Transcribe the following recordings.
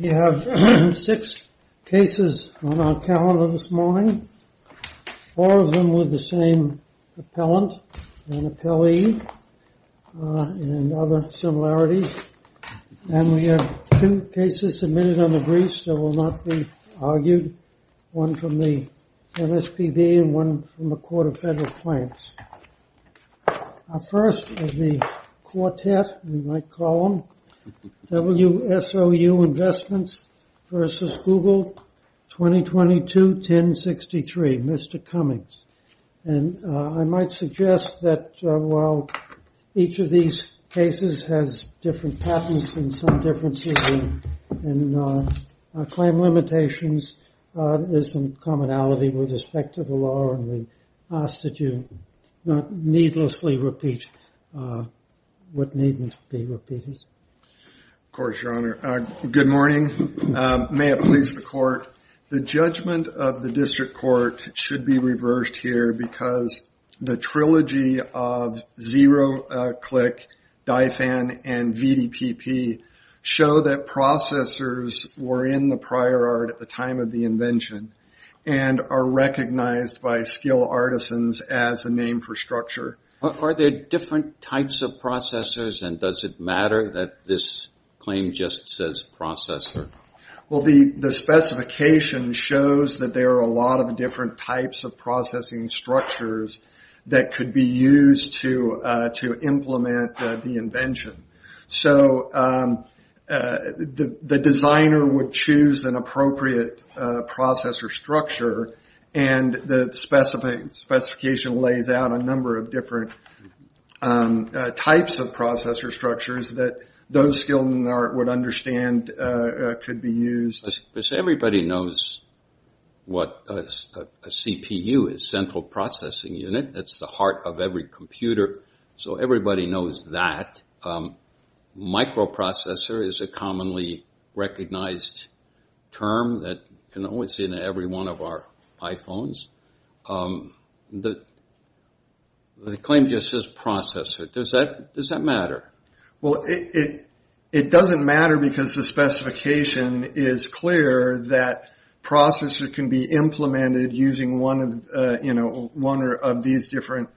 We have six cases on our calendar this morning, four of them with the same appellant and appellee and other similarities and we have two cases submitted on the briefs that will not be argued, one from the MSPB and one from the Court of Federal Claims. Our first is the quartet, we might call them, WSOU Investments v. Google 2022-1063, Mr. Cummings. And I might suggest that while each of these cases has different patents and some differences in claim limitations, there's some commonality with respect to the law and we ask that you not needlessly repeat what needn't be repeated. Of course, Your Honor. Good morning. May it please the court, the judgment of the district court should be reversed here because the trilogy of zero-click, DIFAN, and VDPP show that processors were in the prior art at the time of the invention and are recognized by skilled artisans as a name for structure. Are there different types of processors and does it matter that this claim just says processor? Well, the specification shows that there are a lot of different types of processing structures that could be used. The designer would choose an appropriate processor structure and the specification lays out a number of different types of processor structures that those skilled in the art would understand could be used. Everybody knows what a CPU is, central processing unit, that's the heart of every computer, so everybody knows that. Microprocessor is a commonly recognized term that can only be seen in every one of our iPhones. The claim just says processor, does that matter? Well, it doesn't matter because the specification is clear that processor can be implemented using one of these different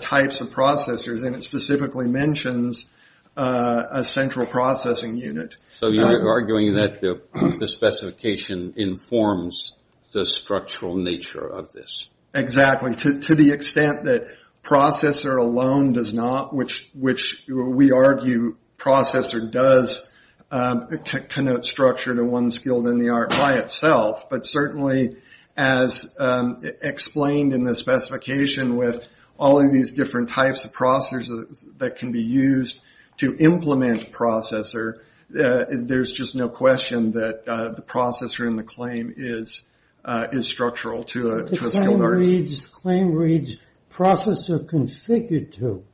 types of processors and it specifically mentions a central processing unit. So you're arguing that the specification informs the structural nature of this? Exactly, to the extent that processor alone does not, which we argue processor does connote structure to one skilled in the art by itself, but certainly as explained in the specification with all of these different types of processors that can be used to implement a processor, there's just no question that the processor in the claim is structural to a skilled artist. The claim reads processor configured to,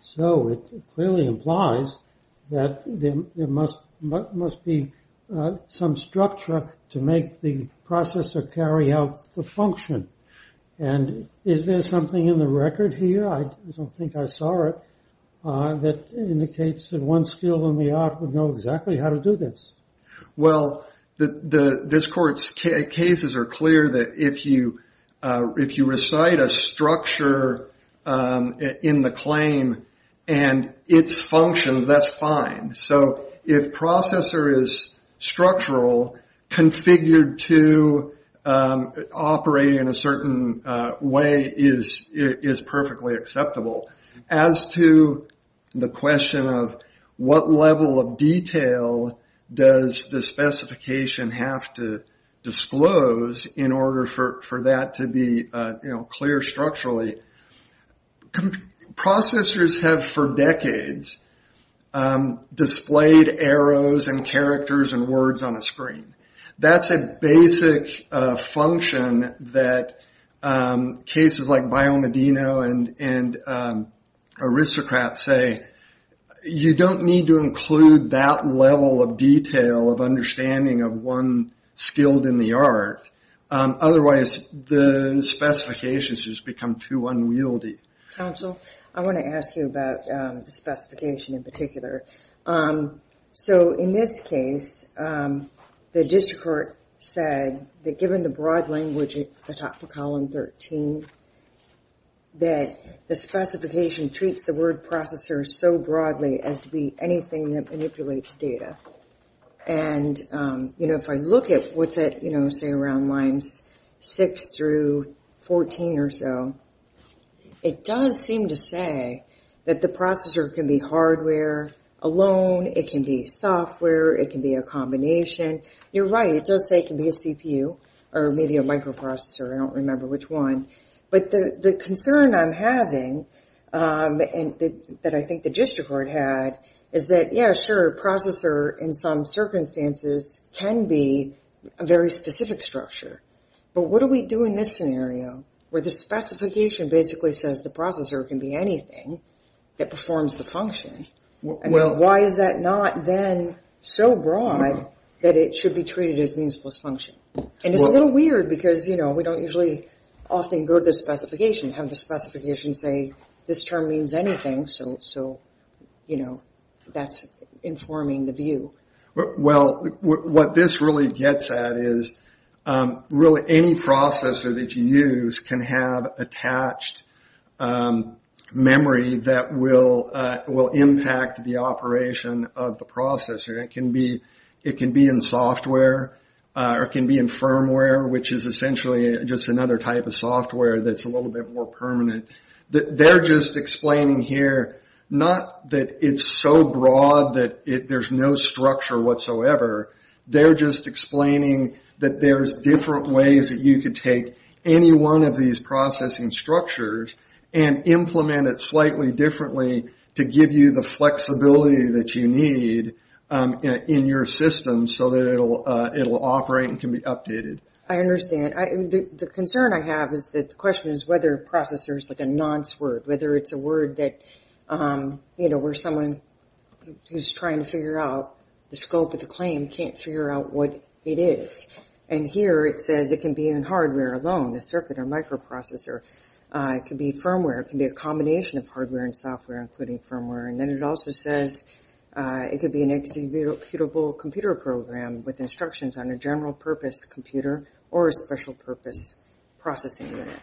so it clearly implies that there must be some structure to make the processor carry out the function and is there something in the record here, I don't think I saw it, that indicates that one skilled in the art would know exactly how to do this? Well, this court's cases are clear that if you recite a structure in the claim and its functions, that's fine. So if processor is structural, configured to operate in a certain way is perfectly acceptable. As to the question of what level of detail does the specification have to disclose in order for that to be clear structurally, processors have for decades displayed arrows and characters and words on a screen. That's a basic function that cases like Biomedino and Aristocrat say, you don't need to include that level of detail of understanding of one skilled in the art. Otherwise, the specifications just become unwieldy. Counsel, I want to ask you about the specification in particular. So in this case, the district court said that given the broad language at the top of column 13, that the specification treats the word processor so broadly as to be anything that manipulates data. If I look at what's at say around lines 6 through 14 or so, it does seem to say that the processor can be hardware alone, it can be software, it can be a combination. You're right, it does say it can be a CPU or maybe a microprocessor, I don't remember which one. But the concern I'm having that I think the district court had is that, yeah, sure, processor in some circumstances can be a very specific structure. But what do we do in this scenario where the specification basically says the processor can be anything that performs the function? Why is that not then so broad that it should be treated as a function? It's a little often go to the specification, have the specification say this term means anything, so that's informing the view. Well, what this really gets at is really any processor that you use can have attached memory that will impact the operation of the processor. It can be in software or it can be in firmware, which is essentially just another type of software that's a little bit more permanent. They're just explaining here not that it's so broad that there's no structure whatsoever. They're just explaining that there's different ways that you could take any one of these processing structures and implement it slightly differently to give you the flexibility that you need in your system so that it will operate and can be updated. I understand. The concern I have is that the question is whether processor is like a nonce word, whether it's a word that where someone who's trying to figure out the scope of the claim can't figure out what it is. And here it says it can be in hardware alone, a circuit or microprocessor. It could be firmware. It can be a combination of hardware and software, including firmware. Then it also says it could be an executable computer program with instructions on a general purpose computer or a special purpose processing unit.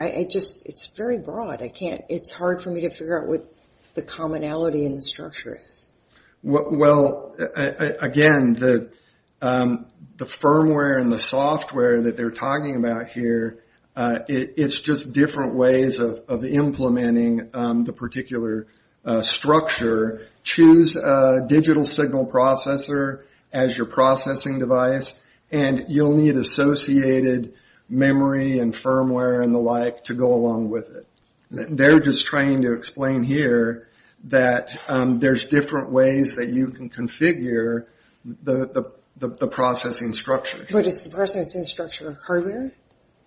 It's very broad. It's hard for me to figure out what the commonality in the structure is. Well, again, the firmware and the software that we're talking about, it's just different ways of implementing the particular structure. Choose a digital signal processor as your processing device and you'll need associated memory and firmware and the like to go along with it. They're just trying to explain here that there's different ways that you can configure the processing structure. But is the processor structure hardware?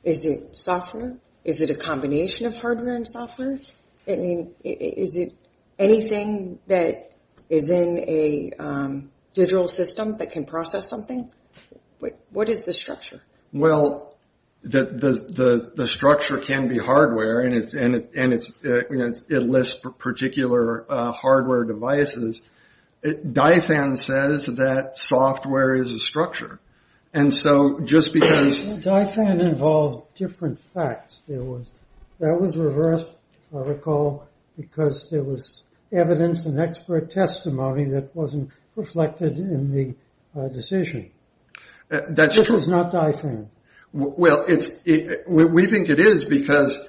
Is it software? Is it a combination of hardware and software? Is it anything that is in a digital system that can process something? What is the structure? Well, the structure can be hardware and it lists particular hardware devices. DiFAN says that software is a structure. And so just because... But DiFAN involved different facts. That was reversed, I recall, because there was evidence and expert testimony that wasn't reflected in the decision. This is not DiFAN. Well, we think it is because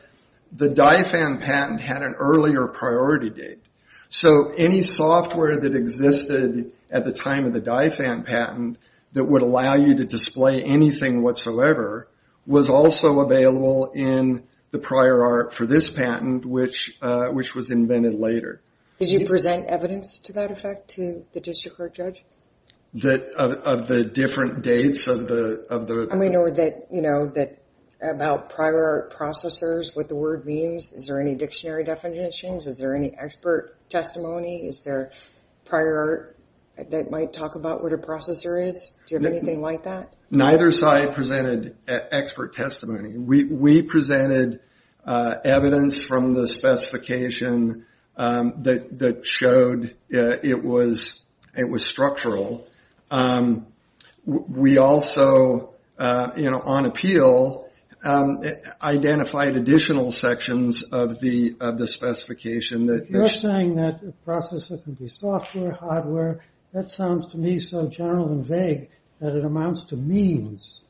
the DiFAN patent had an earlier priority date. So any software that existed at the time of the DiFAN patent that would allow you to display anything whatsoever was also available in the prior art for this patent, which was invented later. Did you present evidence to that effect to the district court judge? Of the different dates of the... And we know that about prior art processors, what the word means, is there any dictionary definitions? Is there any expert testimony? Is there prior art that might talk about what a processor is? Do you have anything like that? Neither side presented expert testimony. We presented evidence from the specification that showed it was structural. We also, on appeal, identified additional sections of the specification. You're saying that a processor can be software, hardware. That sounds to me so general and vague that it amounts to means.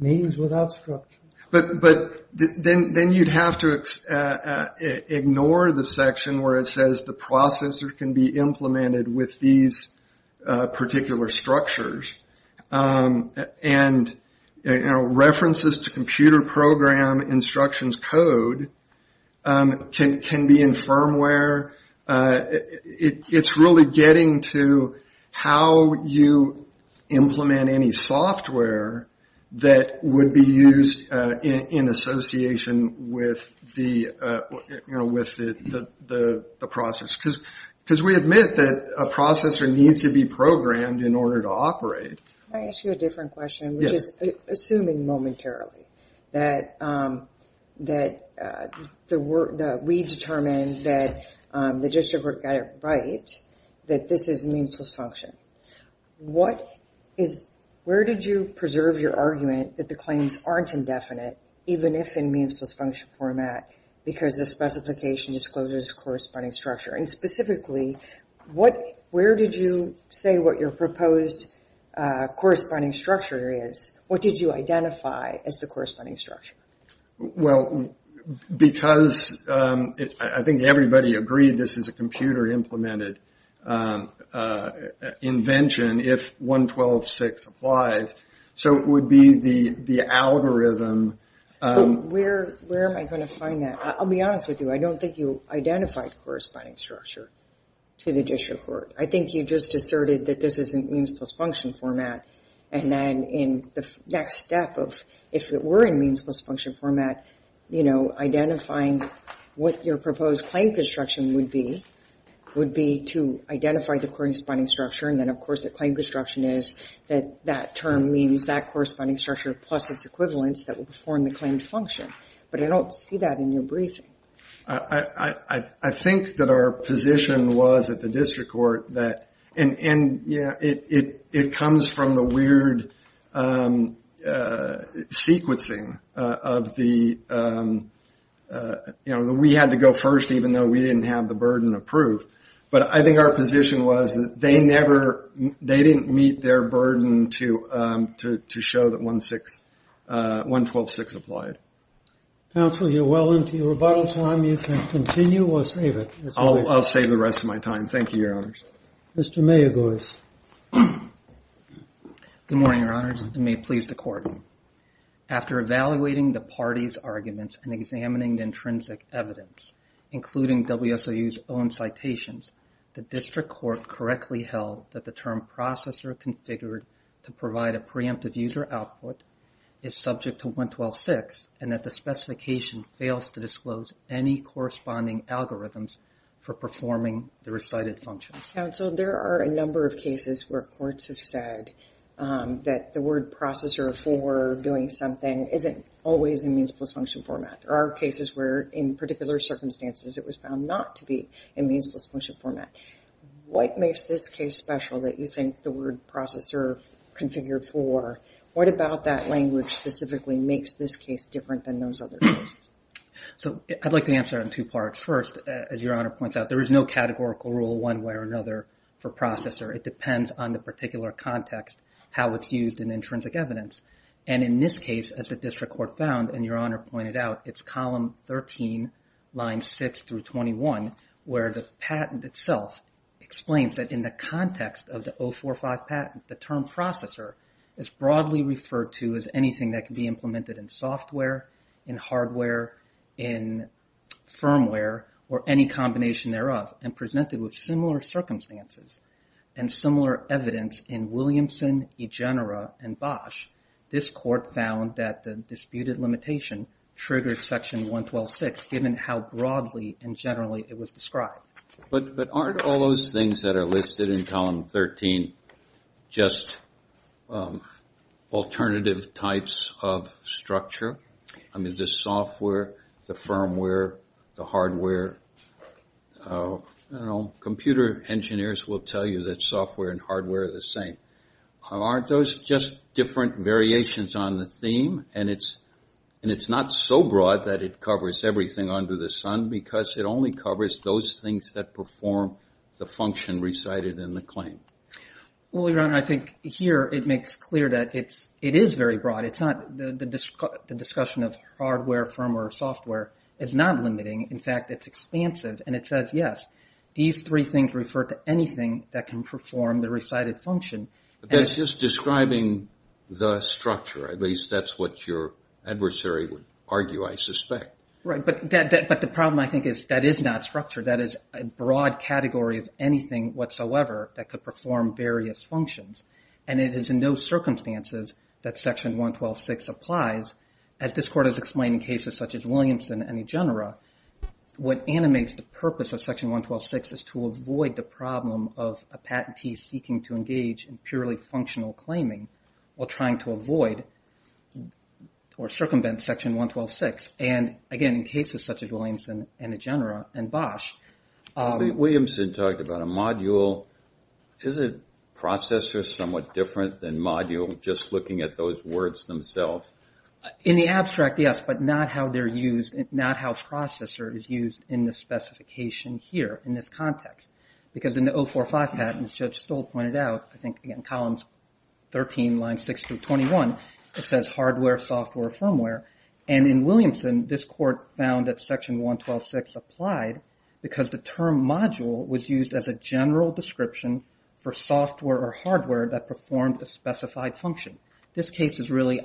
Means without structure. But then you'd have to ignore the section where it says the processor can be implemented with these particular structures. And references to computer program instructions code can be in firmware. It's really getting to how you implement any software that would be used in association with the process. Because we admit that a processor needs to be programmed in order to operate. Can I ask you a different question? Yes. Assuming momentarily that we determined that the district court got it right, that this is means plus function. Where did you preserve your argument that the claims aren't indefinite, even if in means plus function format, because the specification discloses corresponding structure? And specifically, where did you say what your proposed corresponding structure is? What did you identify as the corresponding structure? Well, because I think everybody agreed this is a computer-implemented invention if 112.6 applies. So it would be the algorithm. Where am I going to find that? I'll be honest with you. I don't think you identified the corresponding structure to the district court. I think you just asserted that this is in means plus function format. And then in the next step of if it were in means plus function format, identifying what your proposed claim construction would be, would be to identify the corresponding structure. And then, of course, the claim construction is that that term means that corresponding structure plus its equivalents that will perform the claimed function. But I don't see that in your briefing. I think that our position was at the district court that, and yeah, it comes from the weird sequencing of the, you know, we had to go first, even though we didn't have the burden of proof. But I think our position was that they didn't meet their burden to show that 112.6 applied. Counsel, you're well into your rebuttal time. You can continue or save it. I'll save the rest of my time. Thank you, Your Honors. Mr. Mayergoers. Good morning, Your Honors. And may it please the Court. After evaluating the parties' arguments and examining the intrinsic evidence, including WSOU's own citations, the district court correctly held that the term processor configured to provide a preemptive user output is subject to 112.6 and that the specification fails to disclose any corresponding algorithms for performing the recited function. Counsel, there are a number of cases where courts have said that the word processor for doing something isn't always in means-plus-function format. There are cases where, in particular circumstances, it was found not to be in means-plus-function format. What makes this case special that you think the word processor configured for? What about that language specifically makes this case different than those other cases? I'd like to answer it in two parts. First, as Your Honor points out, there is no categorical rule one way or another for processor. It depends on the particular context, how it's used in intrinsic evidence. And in this case, as the district court found, it's column 13, lines 6 through 21, where the patent itself explains that in the context of the 045 patent, the term processor is broadly referred to as anything that can be implemented in software, in hardware, in firmware, or any combination thereof, and presented with similar circumstances and similar evidence in Williamson, Egenera, and Bosch. This court found that the limitation triggered section 1126, given how broadly and generally it was described. But aren't all those things that are listed in column 13 just alternative types of structure? The software, the firmware, the hardware, computer engineers will tell you that software and hardware are the same. Aren't those just different variations on the theme? And it's not so broad that it covers everything under the sun, because it only covers those things that perform the function recited in the claim. Well, Your Honor, I think here it makes clear that it is very broad. The discussion of hardware, firmware, or software is not limiting. In fact, it's expansive. And it says, yes, these three things refer to anything that can perform the function. That's just describing the structure. At least that's what your adversary would argue, I suspect. Right. But the problem, I think, is that is not structure. That is a broad category of anything whatsoever that could perform various functions. And it is in those circumstances that section 1126 applies. As this court has explained in cases such as Williamson and Egenera, what animates the purpose of section 1126 is to avoid the problem of a patentee seeking to engage in purely functional claiming while trying to avoid or circumvent section 1126. And again, in cases such as Williamson and Egenera and Bosch... Williamson talked about a module. Is a processor somewhat different than module, just looking at those words themselves? In the abstract, yes, but not how they're used, not how processor is used in the specification here in this context. Because in the 045 patent, as Judge Stoll pointed out, I think in columns 13, lines 6 through 21, it says hardware, software, firmware. And in Williamson, this court found that section 1126 applied because the term module was used as a general description for software or hardware that performed a specified function. This case is really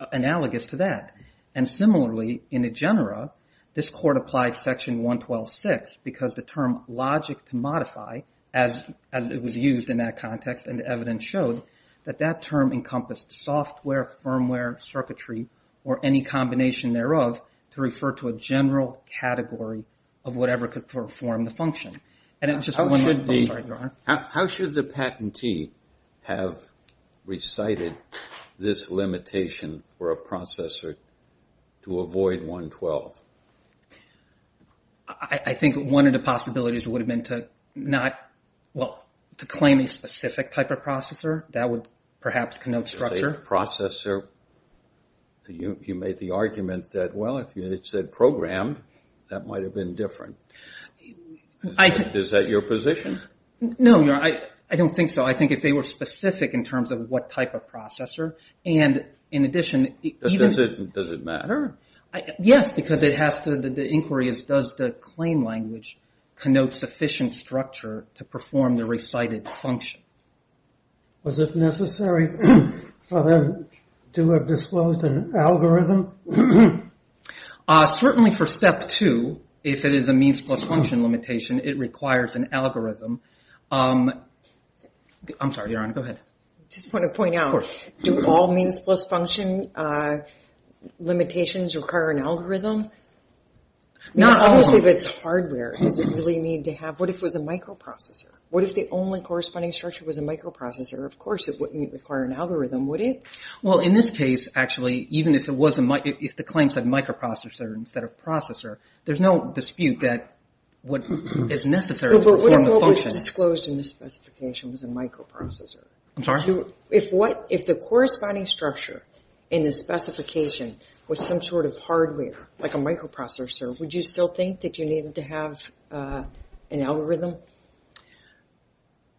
analogous to that. And similarly, in Egenera, this court applied section 1126 because the term logic to modify, as it was used in that context and the evidence showed, that that term encompassed software, firmware, circuitry, or any combination thereof to refer to a general category of whatever could perform the function. And it just... How should the patentee have recited this limitation for a processor to avoid 112? I think one of the possibilities would have been to not, well, to claim a specific type of processor. That would perhaps connote structure. A processor, you made the argument that, well, if it said program, that might have been different. Is that your position? No, I don't think so. I think if they were specific in terms of what does it matter? Yes, because the inquiry is, does the claim language connote sufficient structure to perform the recited function? Was it necessary for them to have disclosed an algorithm? Certainly for step two, if it is a means plus function limitation, it requires an algorithm. I'm sorry, Your Honor, go ahead. I just want to point out, do all means plus function limitations require an algorithm? Obviously, if it's hardware, does it really need to have... What if it was a microprocessor? What if the only corresponding structure was a microprocessor? Of course, it wouldn't require an algorithm, would it? Well, in this case, actually, even if the claim said microprocessor instead of processor, there's no dispute that what is necessary to perform the function... But what if what was disclosed in the If the corresponding structure in the specification was some sort of hardware, like a microprocessor, would you still think that you needed to have an algorithm?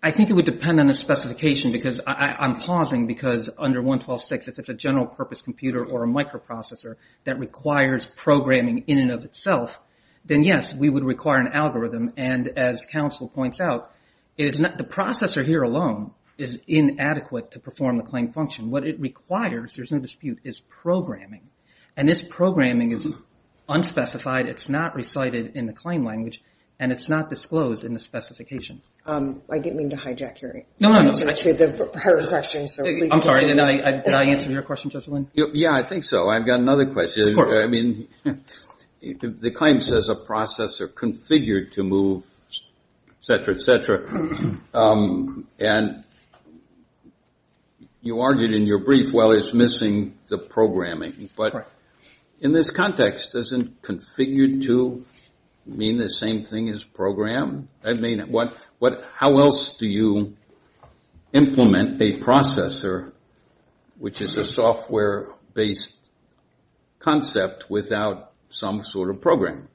I think it would depend on the specification, because I'm pausing, because under 112.6, if it's a general purpose computer or a microprocessor that requires programming in and of itself, then yes, we would require an algorithm. As counsel points out, the processor here alone is inadequate to perform the claim function. What it requires, there's no dispute, is programming. This programming is unspecified, it's not recited in the claim language, and it's not disclosed in the specification. I didn't mean to hijack your answer to the prior question, so please continue. I'm sorry, did I answer your question, Judge Lynn? Yeah, I think so. I've got another question. The claim says a processor configured to move, et cetera, et cetera, and you argued in your brief, well, it's missing the programming, but in this context, doesn't configured to mean the same thing as programmed? How else do you implement a processor, which is a software-based concept, without some sort of programming?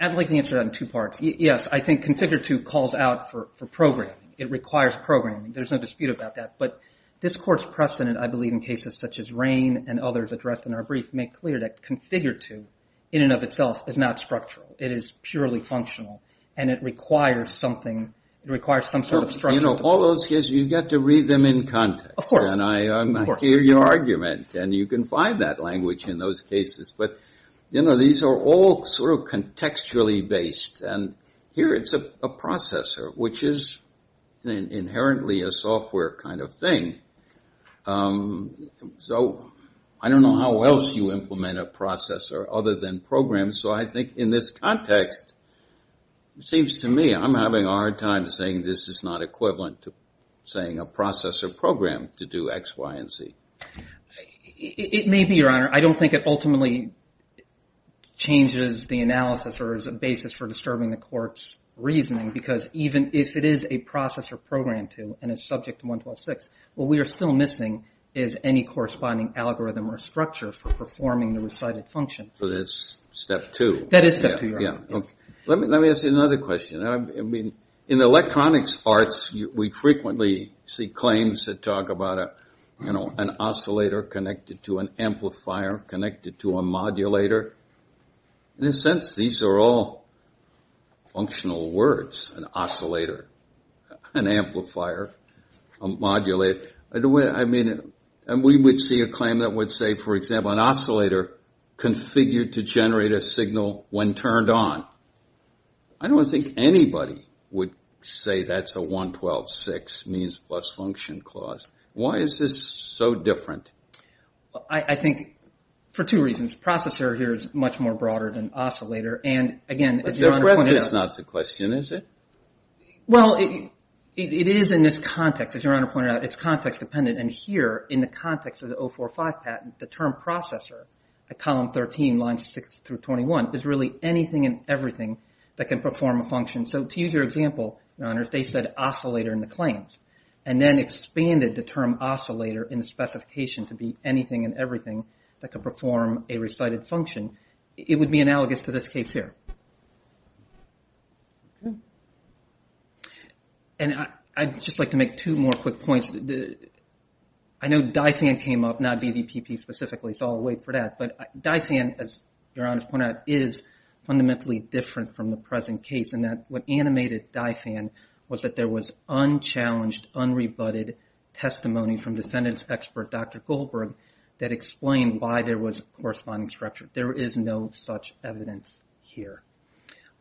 I'd like to answer that in two parts. Yes, I think configured to calls out for programming. It requires programming. There's no dispute about that, but this Court's precedent, I believe, in cases such as Rain and others addressed in our brief make clear that configured to, in and of itself, is not structural. It is purely functional, and it requires something, it requires some sort of structure. You know, all those cases, you've got to read them in context, and I hear your argument, and you can find that language in those cases, but these are all sort of contextually based, and here it's a processor, which is inherently a software kind of thing. So, I don't know how else you implement a processor other than program, so I think in this context, it seems to me I'm having a hard time saying this is not equivalent to saying a processor program to do X, Y, and Z. It may be, Your Honor. I don't think it ultimately changes the analysis or is a basis for disturbing the Court's reasoning, because even if it is a processor program to, and it's subject to 126, what we are still missing is any corresponding algorithm or structure for performing the recited function. So, that's step two. That is step two, Your Honor. Let me ask you another question. In electronics arts, we frequently see claims that talk about an oscillator connected to an amplifier connected to a modulator. In a sense, these are all functional words, an oscillator, an amplifier, a modulator. We would see a claim that would say, for example, an oscillator configured to generate a signal when turned on. I don't think anybody would say that's a 112.6 means plus function clause. Why is this so different? Well, I think for two reasons. Processor here is much more broader than oscillator. But that's not the question, is it? Well, it is in this context, as Your Honor pointed out. It's context dependent. And here, in the context of the 045 patent, the term processor at column 13, lines 6 through 21, is really anything and everything that can perform a function. So, to use your example, Your Honor, they said oscillator in the claims and then expanded the term oscillator in the specification to be anything and everything that could perform a recited function. It would be analogous to this case here. And I'd just like to make two more quick points. I know DIFAN came up, not VVPP specifically, so I'll wait for that. But DIFAN, as Your Honor pointed out, is fundamentally different from the present case in that what animated DIFAN was that there was unchallenged, unrebutted testimony from defendant's corresponding structure. There is no such evidence here.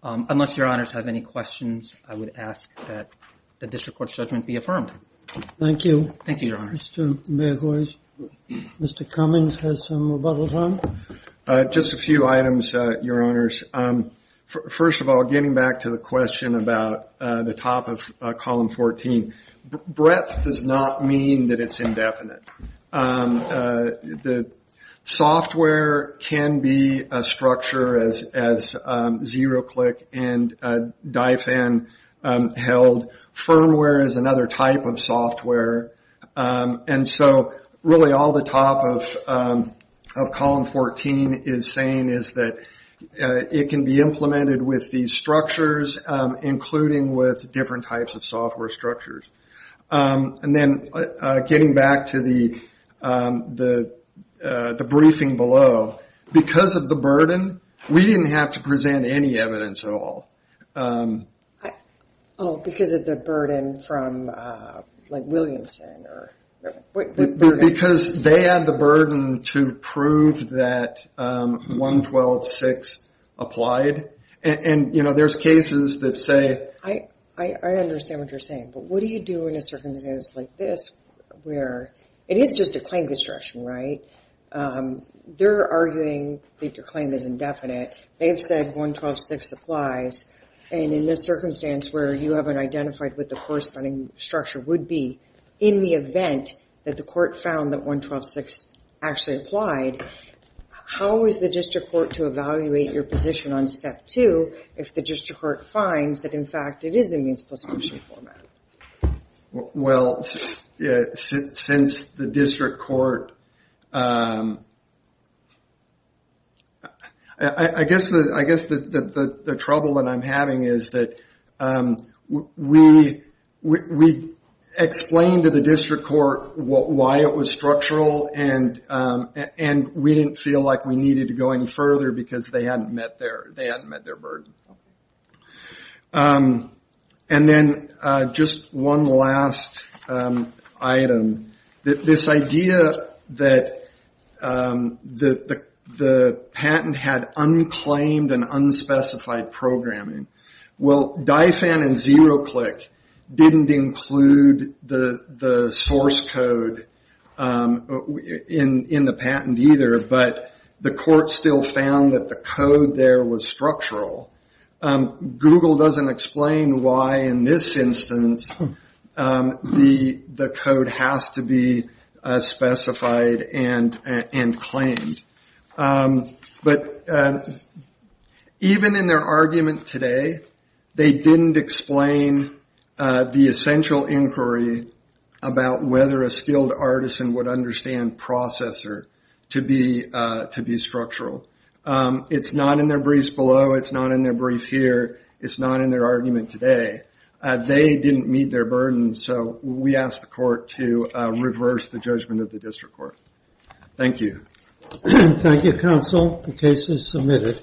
Unless Your Honors have any questions, I would ask that the district court's judgment be affirmed. Thank you. Thank you, Your Honor. Mr. Mayorkas, Mr. Cummings has some rebuttals on. Just a few items, Your Honors. First of all, getting back to the question about the top of column 14, breadth does not mean that it's indefinite. The software can be a structure as ZeroClick and DIFAN held. Firmware is another type of software. And so really all the top of column 14 is saying is that it can be implemented with these structures, including with different types of software structures. And then getting back to the briefing below, because of the burden, we didn't have to present any evidence at all. Oh, because of the burden from, like, Williamson or... Because they had the burden to prove that 112.6 applied. And, you know, there's cases that say... I understand what you're saying, but what do you do in a circumstance like this where it is just a claim construction, right? They're arguing that your claim is indefinite. They've said 112.6 applies. And in this circumstance where you haven't identified what the corresponding structure would be in the event that the court found that 112.6 actually applied, how is the district court to evaluate your position on step two if the district court finds that, in fact, it is in means-plus function format? Well, since the district court... I guess the trouble that I'm having is that we explained to the district court why it was structural, and we didn't feel like we needed to go any further because they hadn't met their burden. And then just one last item. This idea that the patent had unclaimed and unspecified programming. Well, DIFAN and ZeroClick didn't include the source code in the patent either, but the court still found that the code there was structural. Google doesn't explain why, in this instance, the code has to be specified and claimed. But even in their argument today, they didn't explain the essential inquiry about whether a skilled artisan would understand processor to be structural. It's not in their briefs below. It's not in their brief here. It's not in their argument today. They didn't meet their burden, so we asked the court to reverse the judgment of the district court. Thank you. Thank you, counsel. The case is submitted.